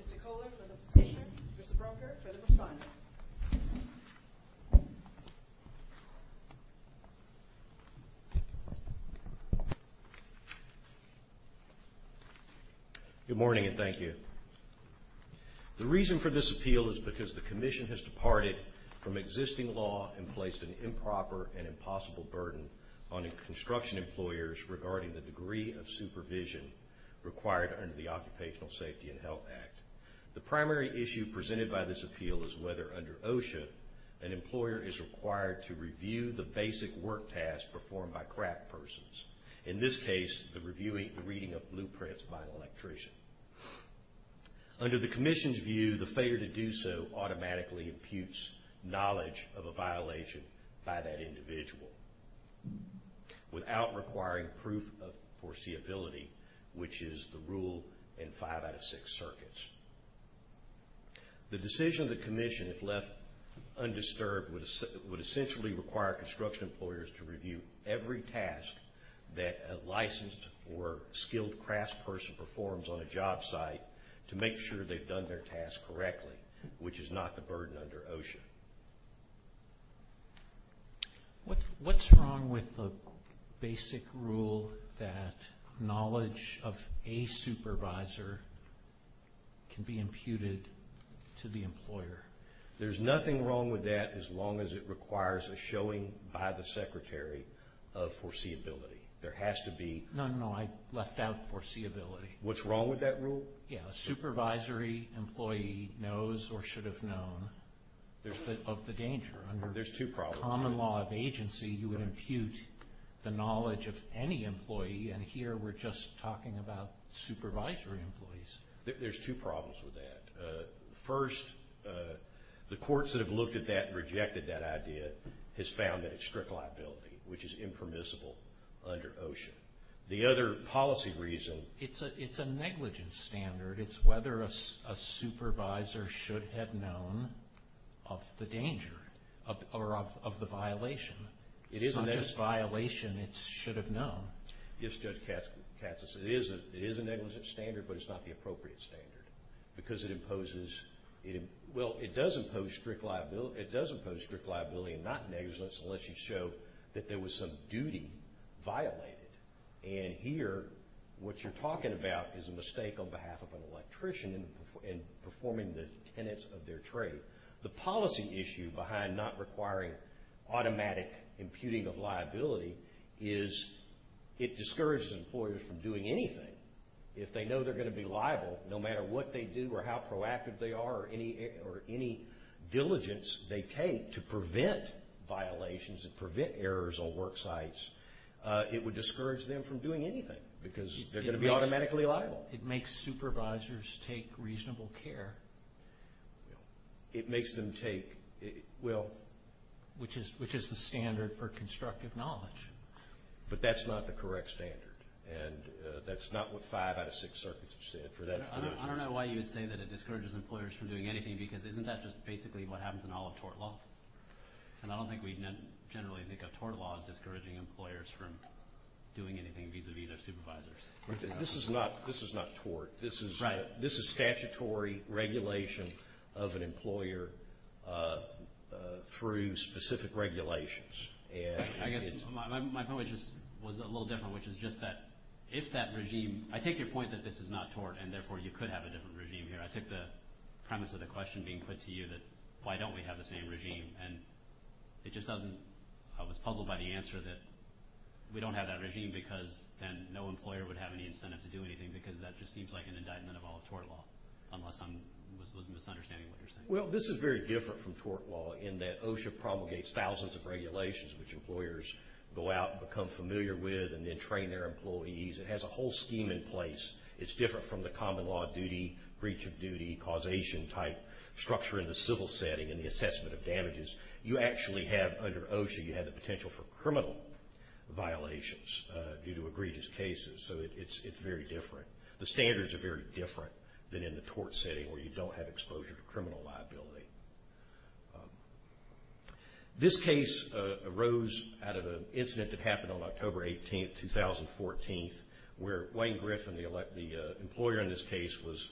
Mr. Kohler for the petitioner, Mr. Broker for the respondent. Good morning and thank you. The reason for this appeal is because the Commission has departed from existing law and placed an improper and impossible burden on construction employers regarding the degree of supervision required under the Occupational Safety and Health Act. The primary issue presented by this appeal is whether, under OSHA, an employer is required to review the basic work tasks performed by craftspersons. In this case, the reviewing and reading of blueprints by an electrician. Under the Commission's view, the failure to do so automatically imputes knowledge of a violation by that individual, without requiring proof of foreseeability, which is the rule in five out of six circuits. The decision of the Commission, if left undisturbed, would essentially require construction employers to review every task that a licensed or skilled craftsperson performs on a job site to make sure they've done their task correctly, which is not the burden under OSHA. What's wrong with the basic rule that knowledge of a supervisor can be imputed to the employer? There's nothing wrong with that as long as it requires a showing by the secretary of foreseeability. There has to be... No, no, no. I left out foreseeability. What's wrong with that rule? Yeah. A supervisory employee knows or should have known of the danger. There's two problems. Under common law of agency, you would impute the knowledge of any employee, and here we're just talking about supervisory employees. There's two problems with that. First, the courts that have looked at that and rejected that idea has found that it's strict liability, which is impermissible under OSHA. The other policy reason... It's a negligence standard. It's whether a supervisor should have known of the danger or of the violation. It's not just violation. It's should have known. Yes, Judge Katsas, it is a negligence standard, but it's not the appropriate standard because it imposes... Well, it does impose strict liability and not negligence unless you show that there was some duty violated, and here, what you're talking about is a mistake on behalf of an electrician in performing the tenets of their trade. The policy issue behind not requiring automatic imputing of liability is it discourages employers from doing anything. If they know they're going to be liable, no matter what they do or how proactive they are or any diligence they take to prevent violations and prevent errors on work sites, it would discourage them from doing anything because they're going to be automatically liable. It makes supervisors take reasonable care. It makes them take... Well... Which is the standard for constructive knowledge. But that's not the correct standard, and that's not what five out of six circuits have said for that... I don't know why you would say that it discourages employers from doing anything because isn't that just basically what happens in all of tort law? And I don't think we generally think of tort law as discouraging employers from doing anything vis-a-vis their supervisors. This is not tort. This is statutory regulation of an employer through specific regulations. I guess my point was just a little different, which is just that if that regime... I take your point that this is not tort, and therefore you could have a different regime here. I took the premise of the question being put to you that why don't we have the same regime, and it just doesn't... I was puzzled by the answer that we don't have that regime because then no employer would have any incentive to do anything because that just seems like an indictment of all of tort law, unless I'm... Was misunderstanding what you're saying. Well, this is very different from tort law in that OSHA promulgates thousands of regulations which employers go out and become familiar with and then train their employees. It has a whole scheme in place. It's different from the common law duty, breach of duty, causation type structure in the civil setting and the assessment of damages. You actually have, under OSHA, you have the potential for criminal violations due to egregious cases, so it's very different. The standards are very different than in the tort setting where you don't have exposure to criminal liability. This case arose out of an incident that happened on October 18th, 2014, where Wayne Griffin, the employer in this case, was...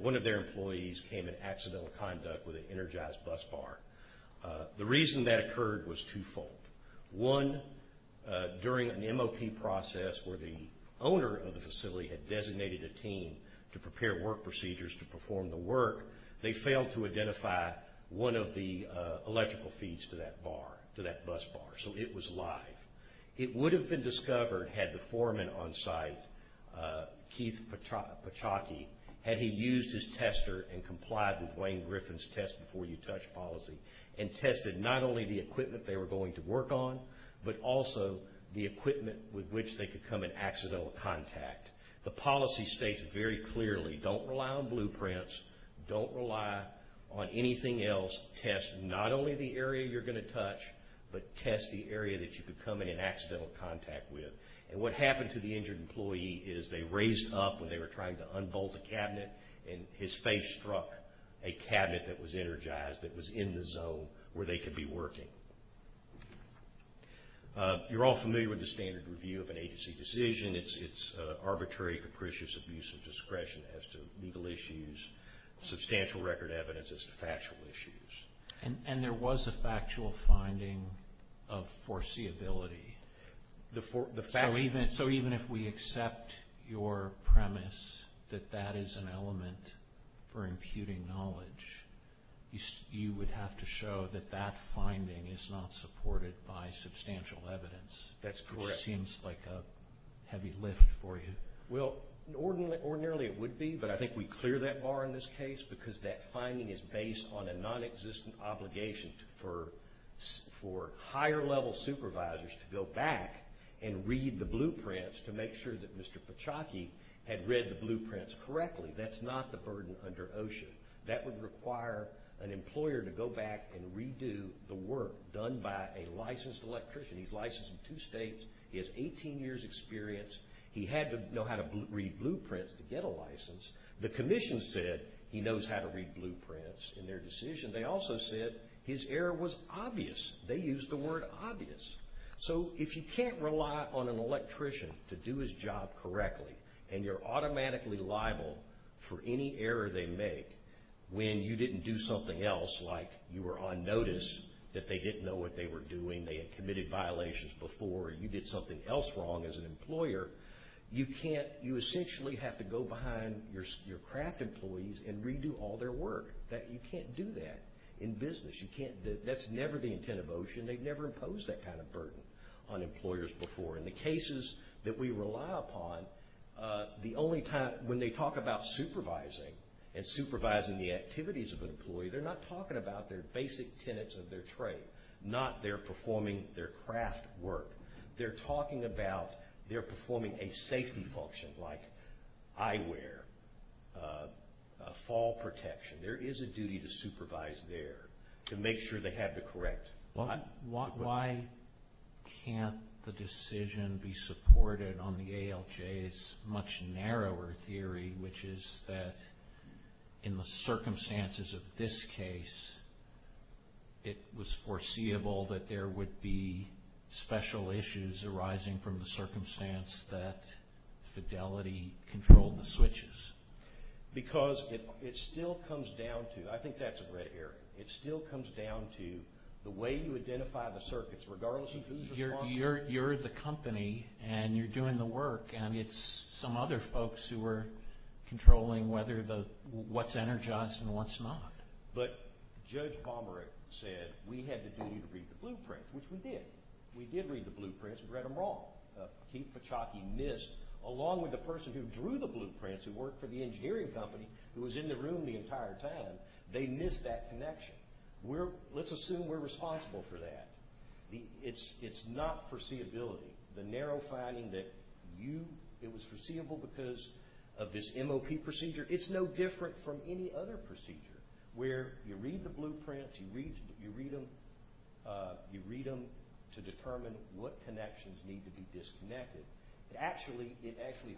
One of their employees came in accidental conduct with an energized bus bar. The reason that occurred was twofold. One, during an MOP process where the owner of the facility had designated a team to prepare work procedures to perform the work, they failed to identify one of the electrical feeds to that bar, to that bus bar, so it was live. It would have been discovered had the foreman on site, Keith Pachocki, had he used his tester and complied with Wayne Griffin's test-before-you-touch policy and tested not only the equipment they were going to work on but also the equipment with which they could come in accidental contact. The policy states very clearly, don't rely on blueprints, don't rely on anything else. Test not only the area you're going to touch, but test the area that you could come in an accidental contact with. What happened to the injured employee is they raised up when they were trying to unbolt the cabinet and his face struck a cabinet that was energized, that was in the zone where they could be working. You're all familiar with the standard review of an agency decision. It's arbitrary, capricious abuse of discretion as to legal issues, substantial record evidence as to factual issues. And there was a factual finding of foreseeability. So even if we accept your premise that that is an element for imputing knowledge, you would have to show that that finding is not supported by substantial evidence. That's correct. That seems like a heavy lift for you. Well ordinarily it would be, but I think we clear that bar in this case because that finding is based on a nonexistent obligation for higher level supervisors to go back and read the blueprints to make sure that Mr. Pachocki had read the blueprints correctly. That's not the burden under OSHA. That would require an employer to go back and redo the work done by a licensed electrician. He's licensed in two states. He has 18 years experience. He had to know how to read blueprints to get a license. The commission said he knows how to read blueprints in their decision. They also said his error was obvious. They used the word obvious. So if you can't rely on an electrician to do his job correctly and you're automatically liable for any error they make when you didn't do something else, like you were on notice that they didn't know what they were doing, they had committed violations before, or you did something else wrong as an employer, you essentially have to go behind your craft employees and redo all their work. You can't do that in business. That's never the intent of OSHA and they've never imposed that kind of burden on employers before. In the cases that we rely upon, when they talk about supervising and supervising the performance of their trade, not they're performing their craft work, they're talking about they're performing a safety function like eyewear, fall protection. There is a duty to supervise there to make sure they have the correct. Why can't the decision be supported on the ALJ's much narrower theory, which is that in the circumstances of this case, it was foreseeable that there would be special issues arising from the circumstance that Fidelity controlled the switches? Because it still comes down to, I think that's a red area. It still comes down to the way you identify the circuits, regardless of who's responsible. You're the company and you're doing the work and it's some other folks who are controlling whether what's energized and what's not. But Judge Pomeroy said we had the duty to read the blueprints, which we did. We did read the blueprints, but we read them wrong. Keith Pachocki missed, along with the person who drew the blueprints, who worked for the engineering company, who was in the room the entire time, they missed that connection. Let's assume we're responsible for that. It's not foreseeability. The narrow finding that it was foreseeable because of this MOP procedure, it's no different from any other procedure, where you read the blueprints, you read them to determine what connections need to be disconnected. It actually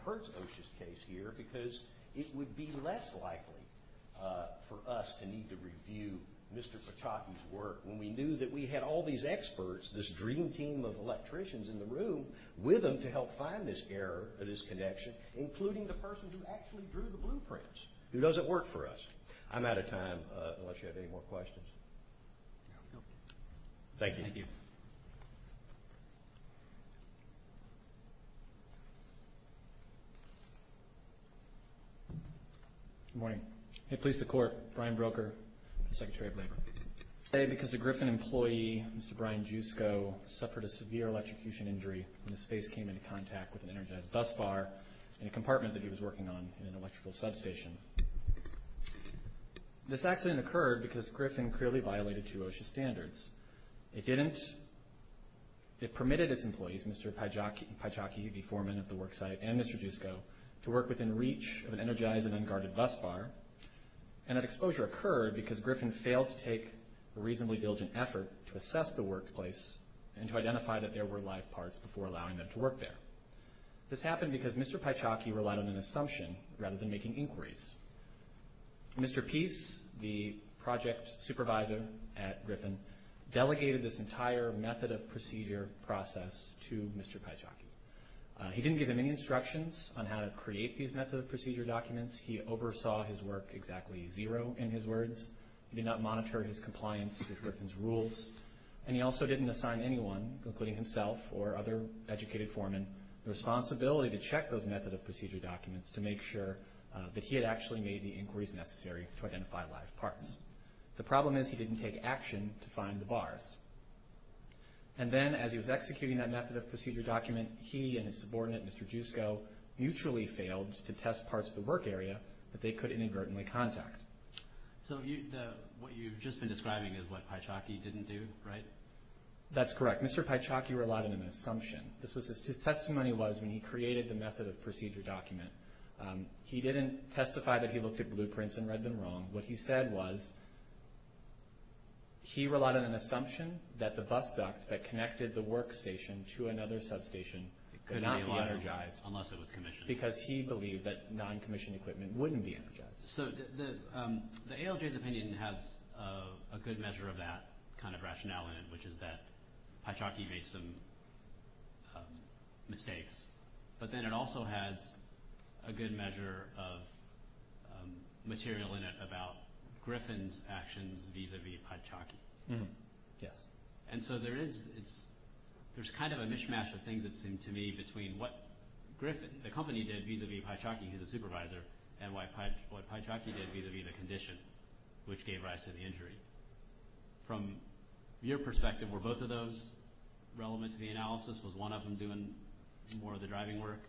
hurts OSHA's case here because it would be less likely for us to need to review Mr. Pachocki's work when we knew that we had all these experts, this dream team of electricians in the room, with them to help find this error, this connection, including the person who actually drew the blueprints, who doesn't work for us. I'm out of time, unless you have any more questions. Thank you. Thank you. Good morning. Today, because a Griffin employee, Mr. Brian Jusko, suffered a severe electrocution injury when his face came into contact with an energized bus bar in a compartment that he was working on in an electrical substation. This accident occurred because Griffin clearly violated two OSHA standards. It permitted its employees, Mr. Pachocki, the foreman at the worksite, and Mr. Jusko, to work within reach of an energized and unguarded bus bar, and that exposure occurred because it took a reasonably diligent effort to assess the workplace and to identify that there were live parts before allowing them to work there. This happened because Mr. Pachocki relied on an assumption rather than making inquiries. Mr. Peace, the project supervisor at Griffin, delegated this entire method of procedure process to Mr. Pachocki. He didn't give him any instructions on how to create these method of procedure documents. He oversaw his work exactly zero, in his words. He did not monitor his compliance with Griffin's rules, and he also didn't assign anyone, including himself or other educated foreman, the responsibility to check those method of procedure documents to make sure that he had actually made the inquiries necessary to identify live parts. The problem is he didn't take action to find the bars. And then, as he was executing that method of procedure document, he and his subordinate, Mr. Jusko, mutually failed to test parts of the work area that they could inadvertently contact. So what you've just been describing is what Pachocki didn't do, right? That's correct. Mr. Pachocki relied on an assumption. His testimony was when he created the method of procedure document, he didn't testify that he looked at blueprints and read them wrong. What he said was he relied on an assumption that the bus duct that connected the work station to another substation could not be energized, because he believed that non-commissioned equipment wouldn't be energized. So the ALJ's opinion has a good measure of that kind of rationale in it, which is that Pachocki made some mistakes. But then it also has a good measure of material in it about Griffin's actions vis-a-vis Pachocki. And so there's kind of a mishmash of things, it seems to me, between what Griffin, the and what Pachocki did vis-a-vis the condition, which gave rise to the injury. From your perspective, were both of those relevant to the analysis? Was one of them doing more of the driving work?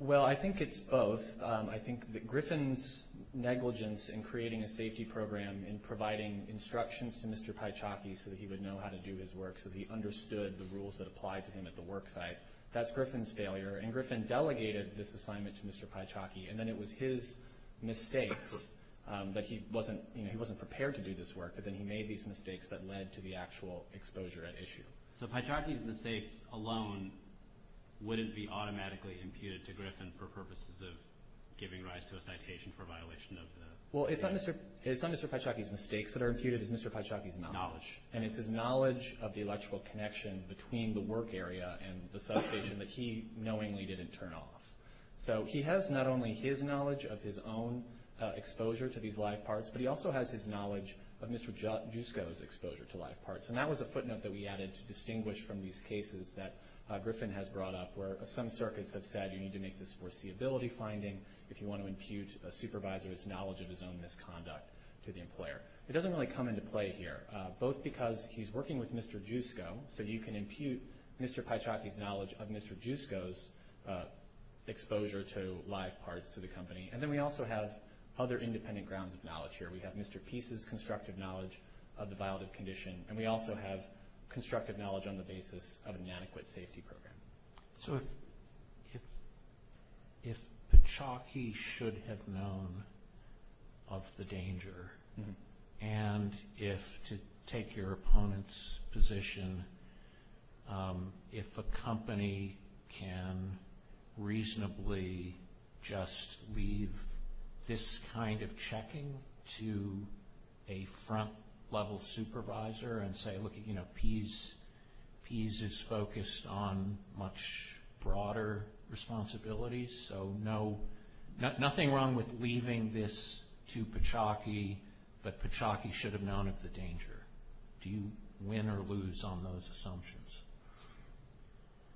Well, I think it's both. I think that Griffin's negligence in creating a safety program and providing instructions to Mr. Pachocki so that he would know how to do his work, so he understood the rules that applied to him at the work site, that's Griffin's failure. And Griffin delegated this assignment to Mr. Pachocki, and then it was his mistakes that he wasn't prepared to do this work, but then he made these mistakes that led to the actual exposure at issue. So Pachocki's mistakes alone wouldn't be automatically imputed to Griffin for purposes of giving rise to a citation for a violation of the... Well, it's not Mr. Pachocki's mistakes that are imputed, it's Mr. Pachocki's knowledge. And it's his knowledge of the electrical connection between the work area and the substation that he knowingly didn't turn off. So he has not only his knowledge of his own exposure to these live parts, but he also has his knowledge of Mr. Giusco's exposure to live parts. And that was a footnote that we added to distinguish from these cases that Griffin has brought up where some circuits have said you need to make this foreseeability finding if you want to impute a supervisor's knowledge of his own misconduct to the employer. It doesn't really come into play here, both because he's working with Mr. Giusco, so you can impute Mr. Pachocki's knowledge of Mr. Giusco's exposure to live parts to the company. And then we also have other independent grounds of knowledge here. We have Mr. Peace's constructive knowledge of the violative condition, and we also have constructive knowledge on the basis of an adequate safety program. So if Pachocki should have known of the danger, and if to take your opponent's position, if a company can reasonably just leave this kind of checking to a front-level supervisor and say, look, you know, Peace is focused on much broader responsibilities, so nothing wrong with leaving this to Pachocki, but Pachocki should have known of the danger. Do you win or lose on those assumptions?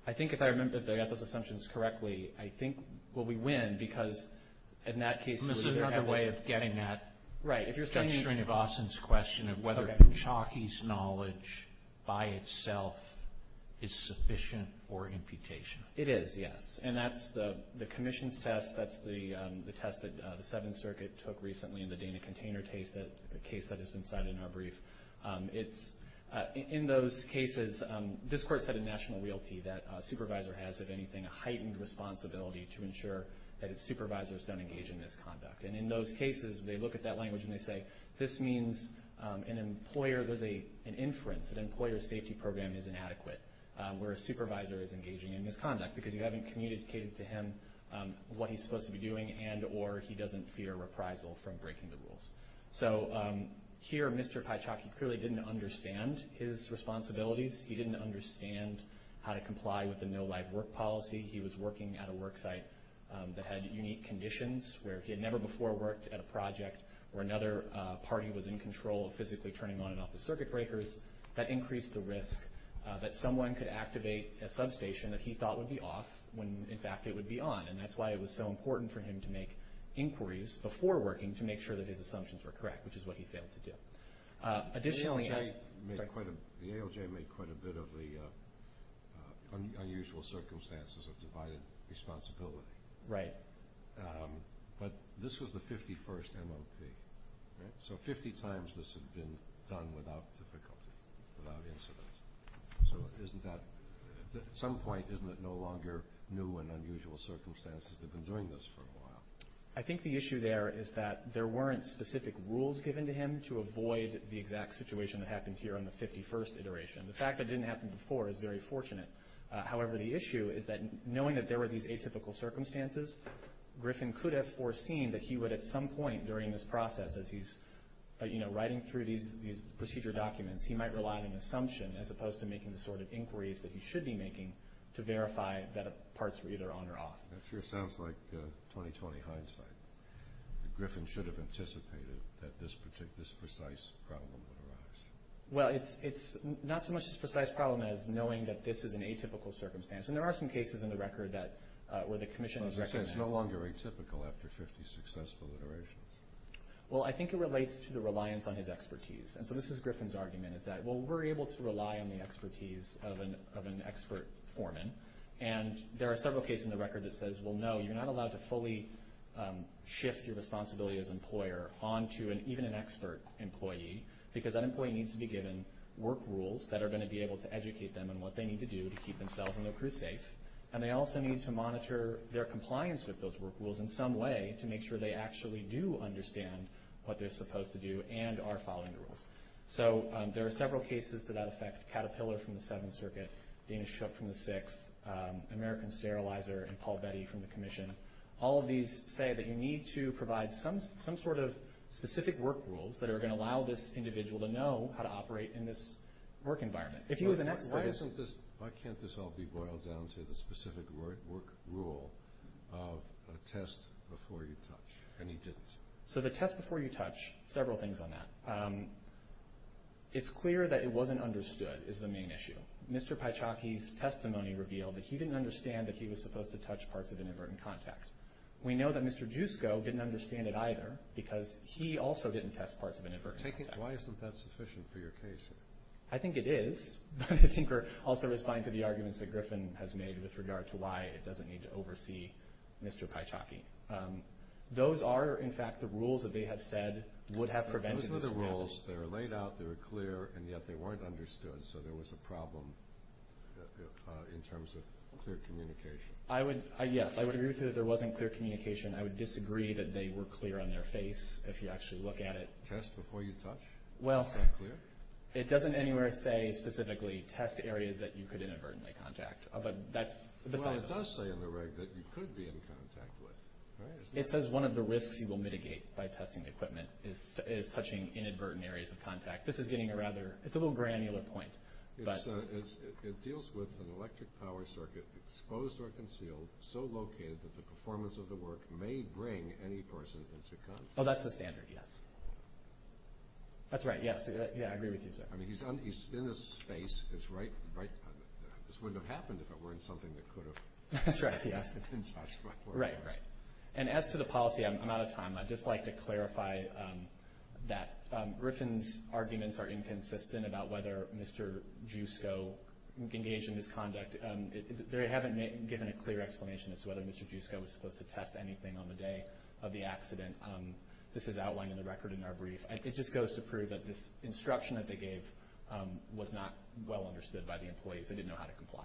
I think if I remember, if I got those assumptions correctly, I think, well, we win, because in that case, there was another way of getting that. Right. If you're saying... Judge Srinivasan's question of whether Pachocki's knowledge by itself is sufficient or imputation. It is, yes. And that's the commission's test, that's the test that the Seventh Circuit took recently in the Dana container case that has been cited in our brief. In those cases, this court's had a national realty that a supervisor has, if anything, a heightened responsibility to ensure that its supervisors don't engage in misconduct. And in those cases, they look at that language and they say, this means an employer, there's an inference that an employer's safety program is inadequate where a supervisor is engaging in misconduct, because you haven't communicated to him what he's supposed to be doing and or he doesn't fear reprisal from breaking the rules. So here, Mr. Pachocki clearly didn't understand his responsibilities, he didn't understand how to comply with the no live work policy, he was working at a work site that had unique conditions where he had never before worked at a project where another party was in control of physically turning on and off the circuit breakers, that increased the risk that someone could activate a substation that he thought would be off when, in fact, it would be on. And that's why it was so important for him to make inquiries before working to make sure that his assumptions were correct, which is what he failed to do. Additionally, as... The ALJ made quite a bit of the unusual circumstances of divided responsibility. Right. But this was the 51st MOP, so 50 times this had been done without difficulty, without incident. So isn't that... At some point, isn't it no longer new and unusual circumstances to have been doing this for a while? I think the issue there is that there weren't specific rules given to him to avoid the exact situation that happened here on the 51st iteration. The fact that it didn't happen before is very fortunate. However, the issue is that knowing that there were these atypical circumstances, Griffin could have foreseen that he would at some point during this process, as he's writing through these procedure documents, he might rely on an assumption as opposed to making the sort of inquiries that he should be making to verify that parts were either on or off. That sure sounds like 2020 hindsight. Griffin should have anticipated that this precise problem would arise. Well, it's not so much this precise problem as knowing that this is an atypical circumstance. And there are some cases in the record where the commission has recognized... So it's no longer atypical after 50 successful iterations? Well, I think it relates to the reliance on his expertise. And so this is Griffin's argument, is that, well, we're able to rely on the expertise of an expert foreman. And there are several cases in the record that says, well, no, you're not allowed to fully shift your responsibility as employer onto even an expert employee, because that employee needs to be given work rules that are going to be able to educate them on what they need to do to keep themselves and their crew safe. And they also need to monitor their compliance with those work rules in some way to make sure they actually do understand what they're supposed to do and are following the rules. So there are several cases to that effect. Caterpillar from the Seventh Circuit, Dana Shook from the Sixth, American Sterilizer and Paul Betty from the commission. All of these say that you need to provide some sort of specific work rules that are going to let you know how to operate in this work environment. Why can't this all be boiled down to the specific work rule of a test before you touch? And he didn't. So the test before you touch, several things on that. It's clear that it wasn't understood is the main issue. Mr. Pachocki's testimony revealed that he didn't understand that he was supposed to touch parts of inadvertent contact. We know that Mr. Jusko didn't understand it either, because he also didn't test parts of inadvertent contact. Why isn't that sufficient for your case? I think it is. But I think we're also responding to the arguments that Griffin has made with regard to why it doesn't need to oversee Mr. Pachocki. Those are, in fact, the rules that they have said would have prevented this. Those were the rules. They were laid out. They were clear. And yet they weren't understood. So there was a problem in terms of clear communication. Yes, I would agree with you that there wasn't clear communication. I would disagree that they were clear on their face, if you actually look at it. Test before you touch? Well, it doesn't anywhere say specifically test areas that you could inadvertently contact. But that's beside the point. Well, it does say in the reg that you could be in contact with. It says one of the risks you will mitigate by testing equipment is touching inadvertent areas of contact. This is getting a rather – it's a little granular point. It deals with an electric power circuit, exposed or concealed, so located that the performance of the work may bring any person into contact. Oh, that's the standard. Yes. That's right. Yes. Yeah, I agree with you, sir. I mean, he's in this space. It's right – this wouldn't have happened if it weren't something that could have – That's right. Yes. Right, right. And as to the policy, I'm out of time. I'd just like to clarify that Griffin's arguments are inconsistent about whether Mr. Jusko engaged in this conduct. They haven't given a clear explanation as to whether Mr. Jusko was supposed to test anything on the day of the accident. This is outlined in the record in our brief. It just goes to prove that this instruction that they gave was not well understood by the employees. They didn't know how to comply.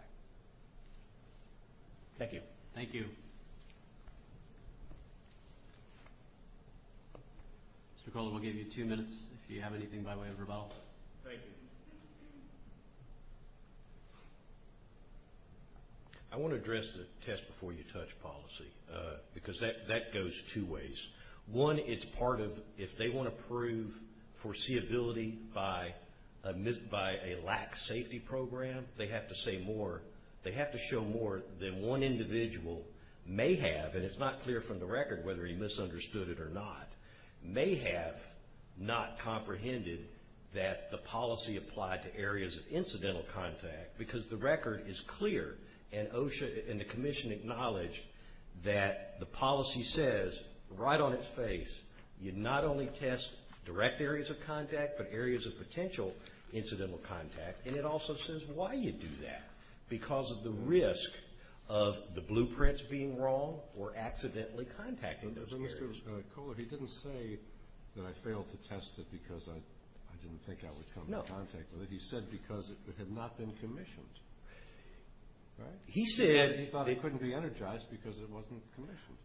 Thank you. Thank you. Mr. McCullough, we'll give you two minutes if you have anything, by way of rebuttal. Thank you. I want to address the test-before-you-touch policy, because that goes two ways. One, it's part of – if they want to prove foreseeability by a lack-safety program, they have to say more – they have to show more than one individual may have – and it's not clear from the record whether he misunderstood it or not – may have not comprehended that the policy applied to areas of incidental contact, because the record is clear, and OSHA and the Commission acknowledge that the policy says right on its face, you not only test direct areas of contact, but areas of potential incidental contact, and it also says why you do that – because of the risk of the blueprints being wrong or accidentally contacting those areas. Mr. McCullough, he didn't say that I failed to test it because I didn't think I would come into contact with it. He said because it had not been commissioned, right? He said – He thought it couldn't be energized because it wasn't commissioned.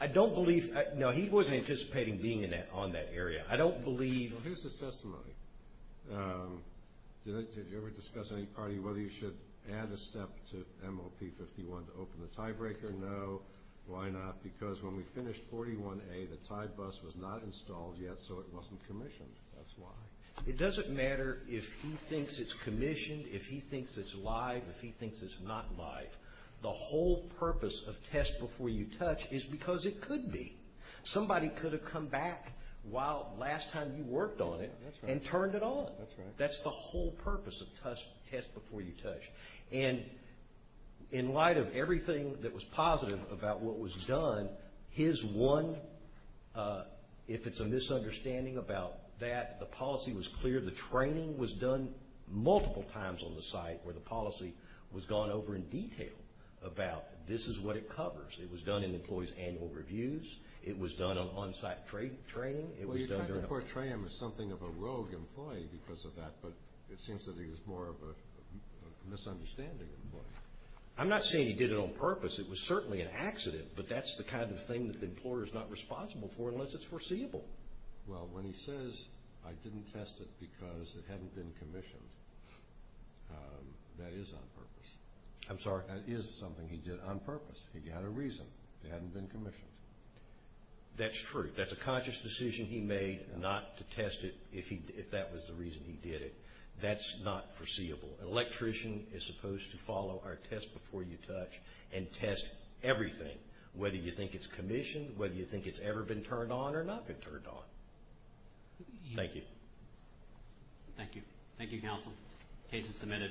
I don't believe – no, he wasn't anticipating being on that area. I don't believe – Well, here's his testimony. Did you ever discuss with any party whether you should add a step to MOP-51 to open the tiebreaker? No. No? Why not? Because when we finished 41A, the tie bus was not installed yet, so it wasn't commissioned. That's why. It doesn't matter if he thinks it's commissioned, if he thinks it's live, if he thinks it's not live. The whole purpose of test before you touch is because it could be. Somebody could have come back while last time you worked on it and turned it on. That's the whole purpose of test before you touch. And in light of everything that was positive about what was done, his one – if it's a misunderstanding about that, the policy was clear. The training was done multiple times on the site where the policy was gone over in detail about this is what it covers. It was done in employees' annual reviews. It was done on-site training. It was done during – Well, you're trying to portray him as something of a rogue employee because of that, but it I'm not saying he did it on purpose. It was certainly an accident, but that's the kind of thing that the employer is not responsible for unless it's foreseeable. Well, when he says, I didn't test it because it hadn't been commissioned, that is on purpose. I'm sorry? That is something he did on purpose. He got a reason it hadn't been commissioned. That's true. That's a conscious decision he made not to test it if that was the reason he did it. That's not foreseeable. An electrician is supposed to follow our test before you touch and test everything, whether you think it's commissioned, whether you think it's ever been turned on or not been turned on. Thank you. Thank you. Thank you, counsel. The case is submitted.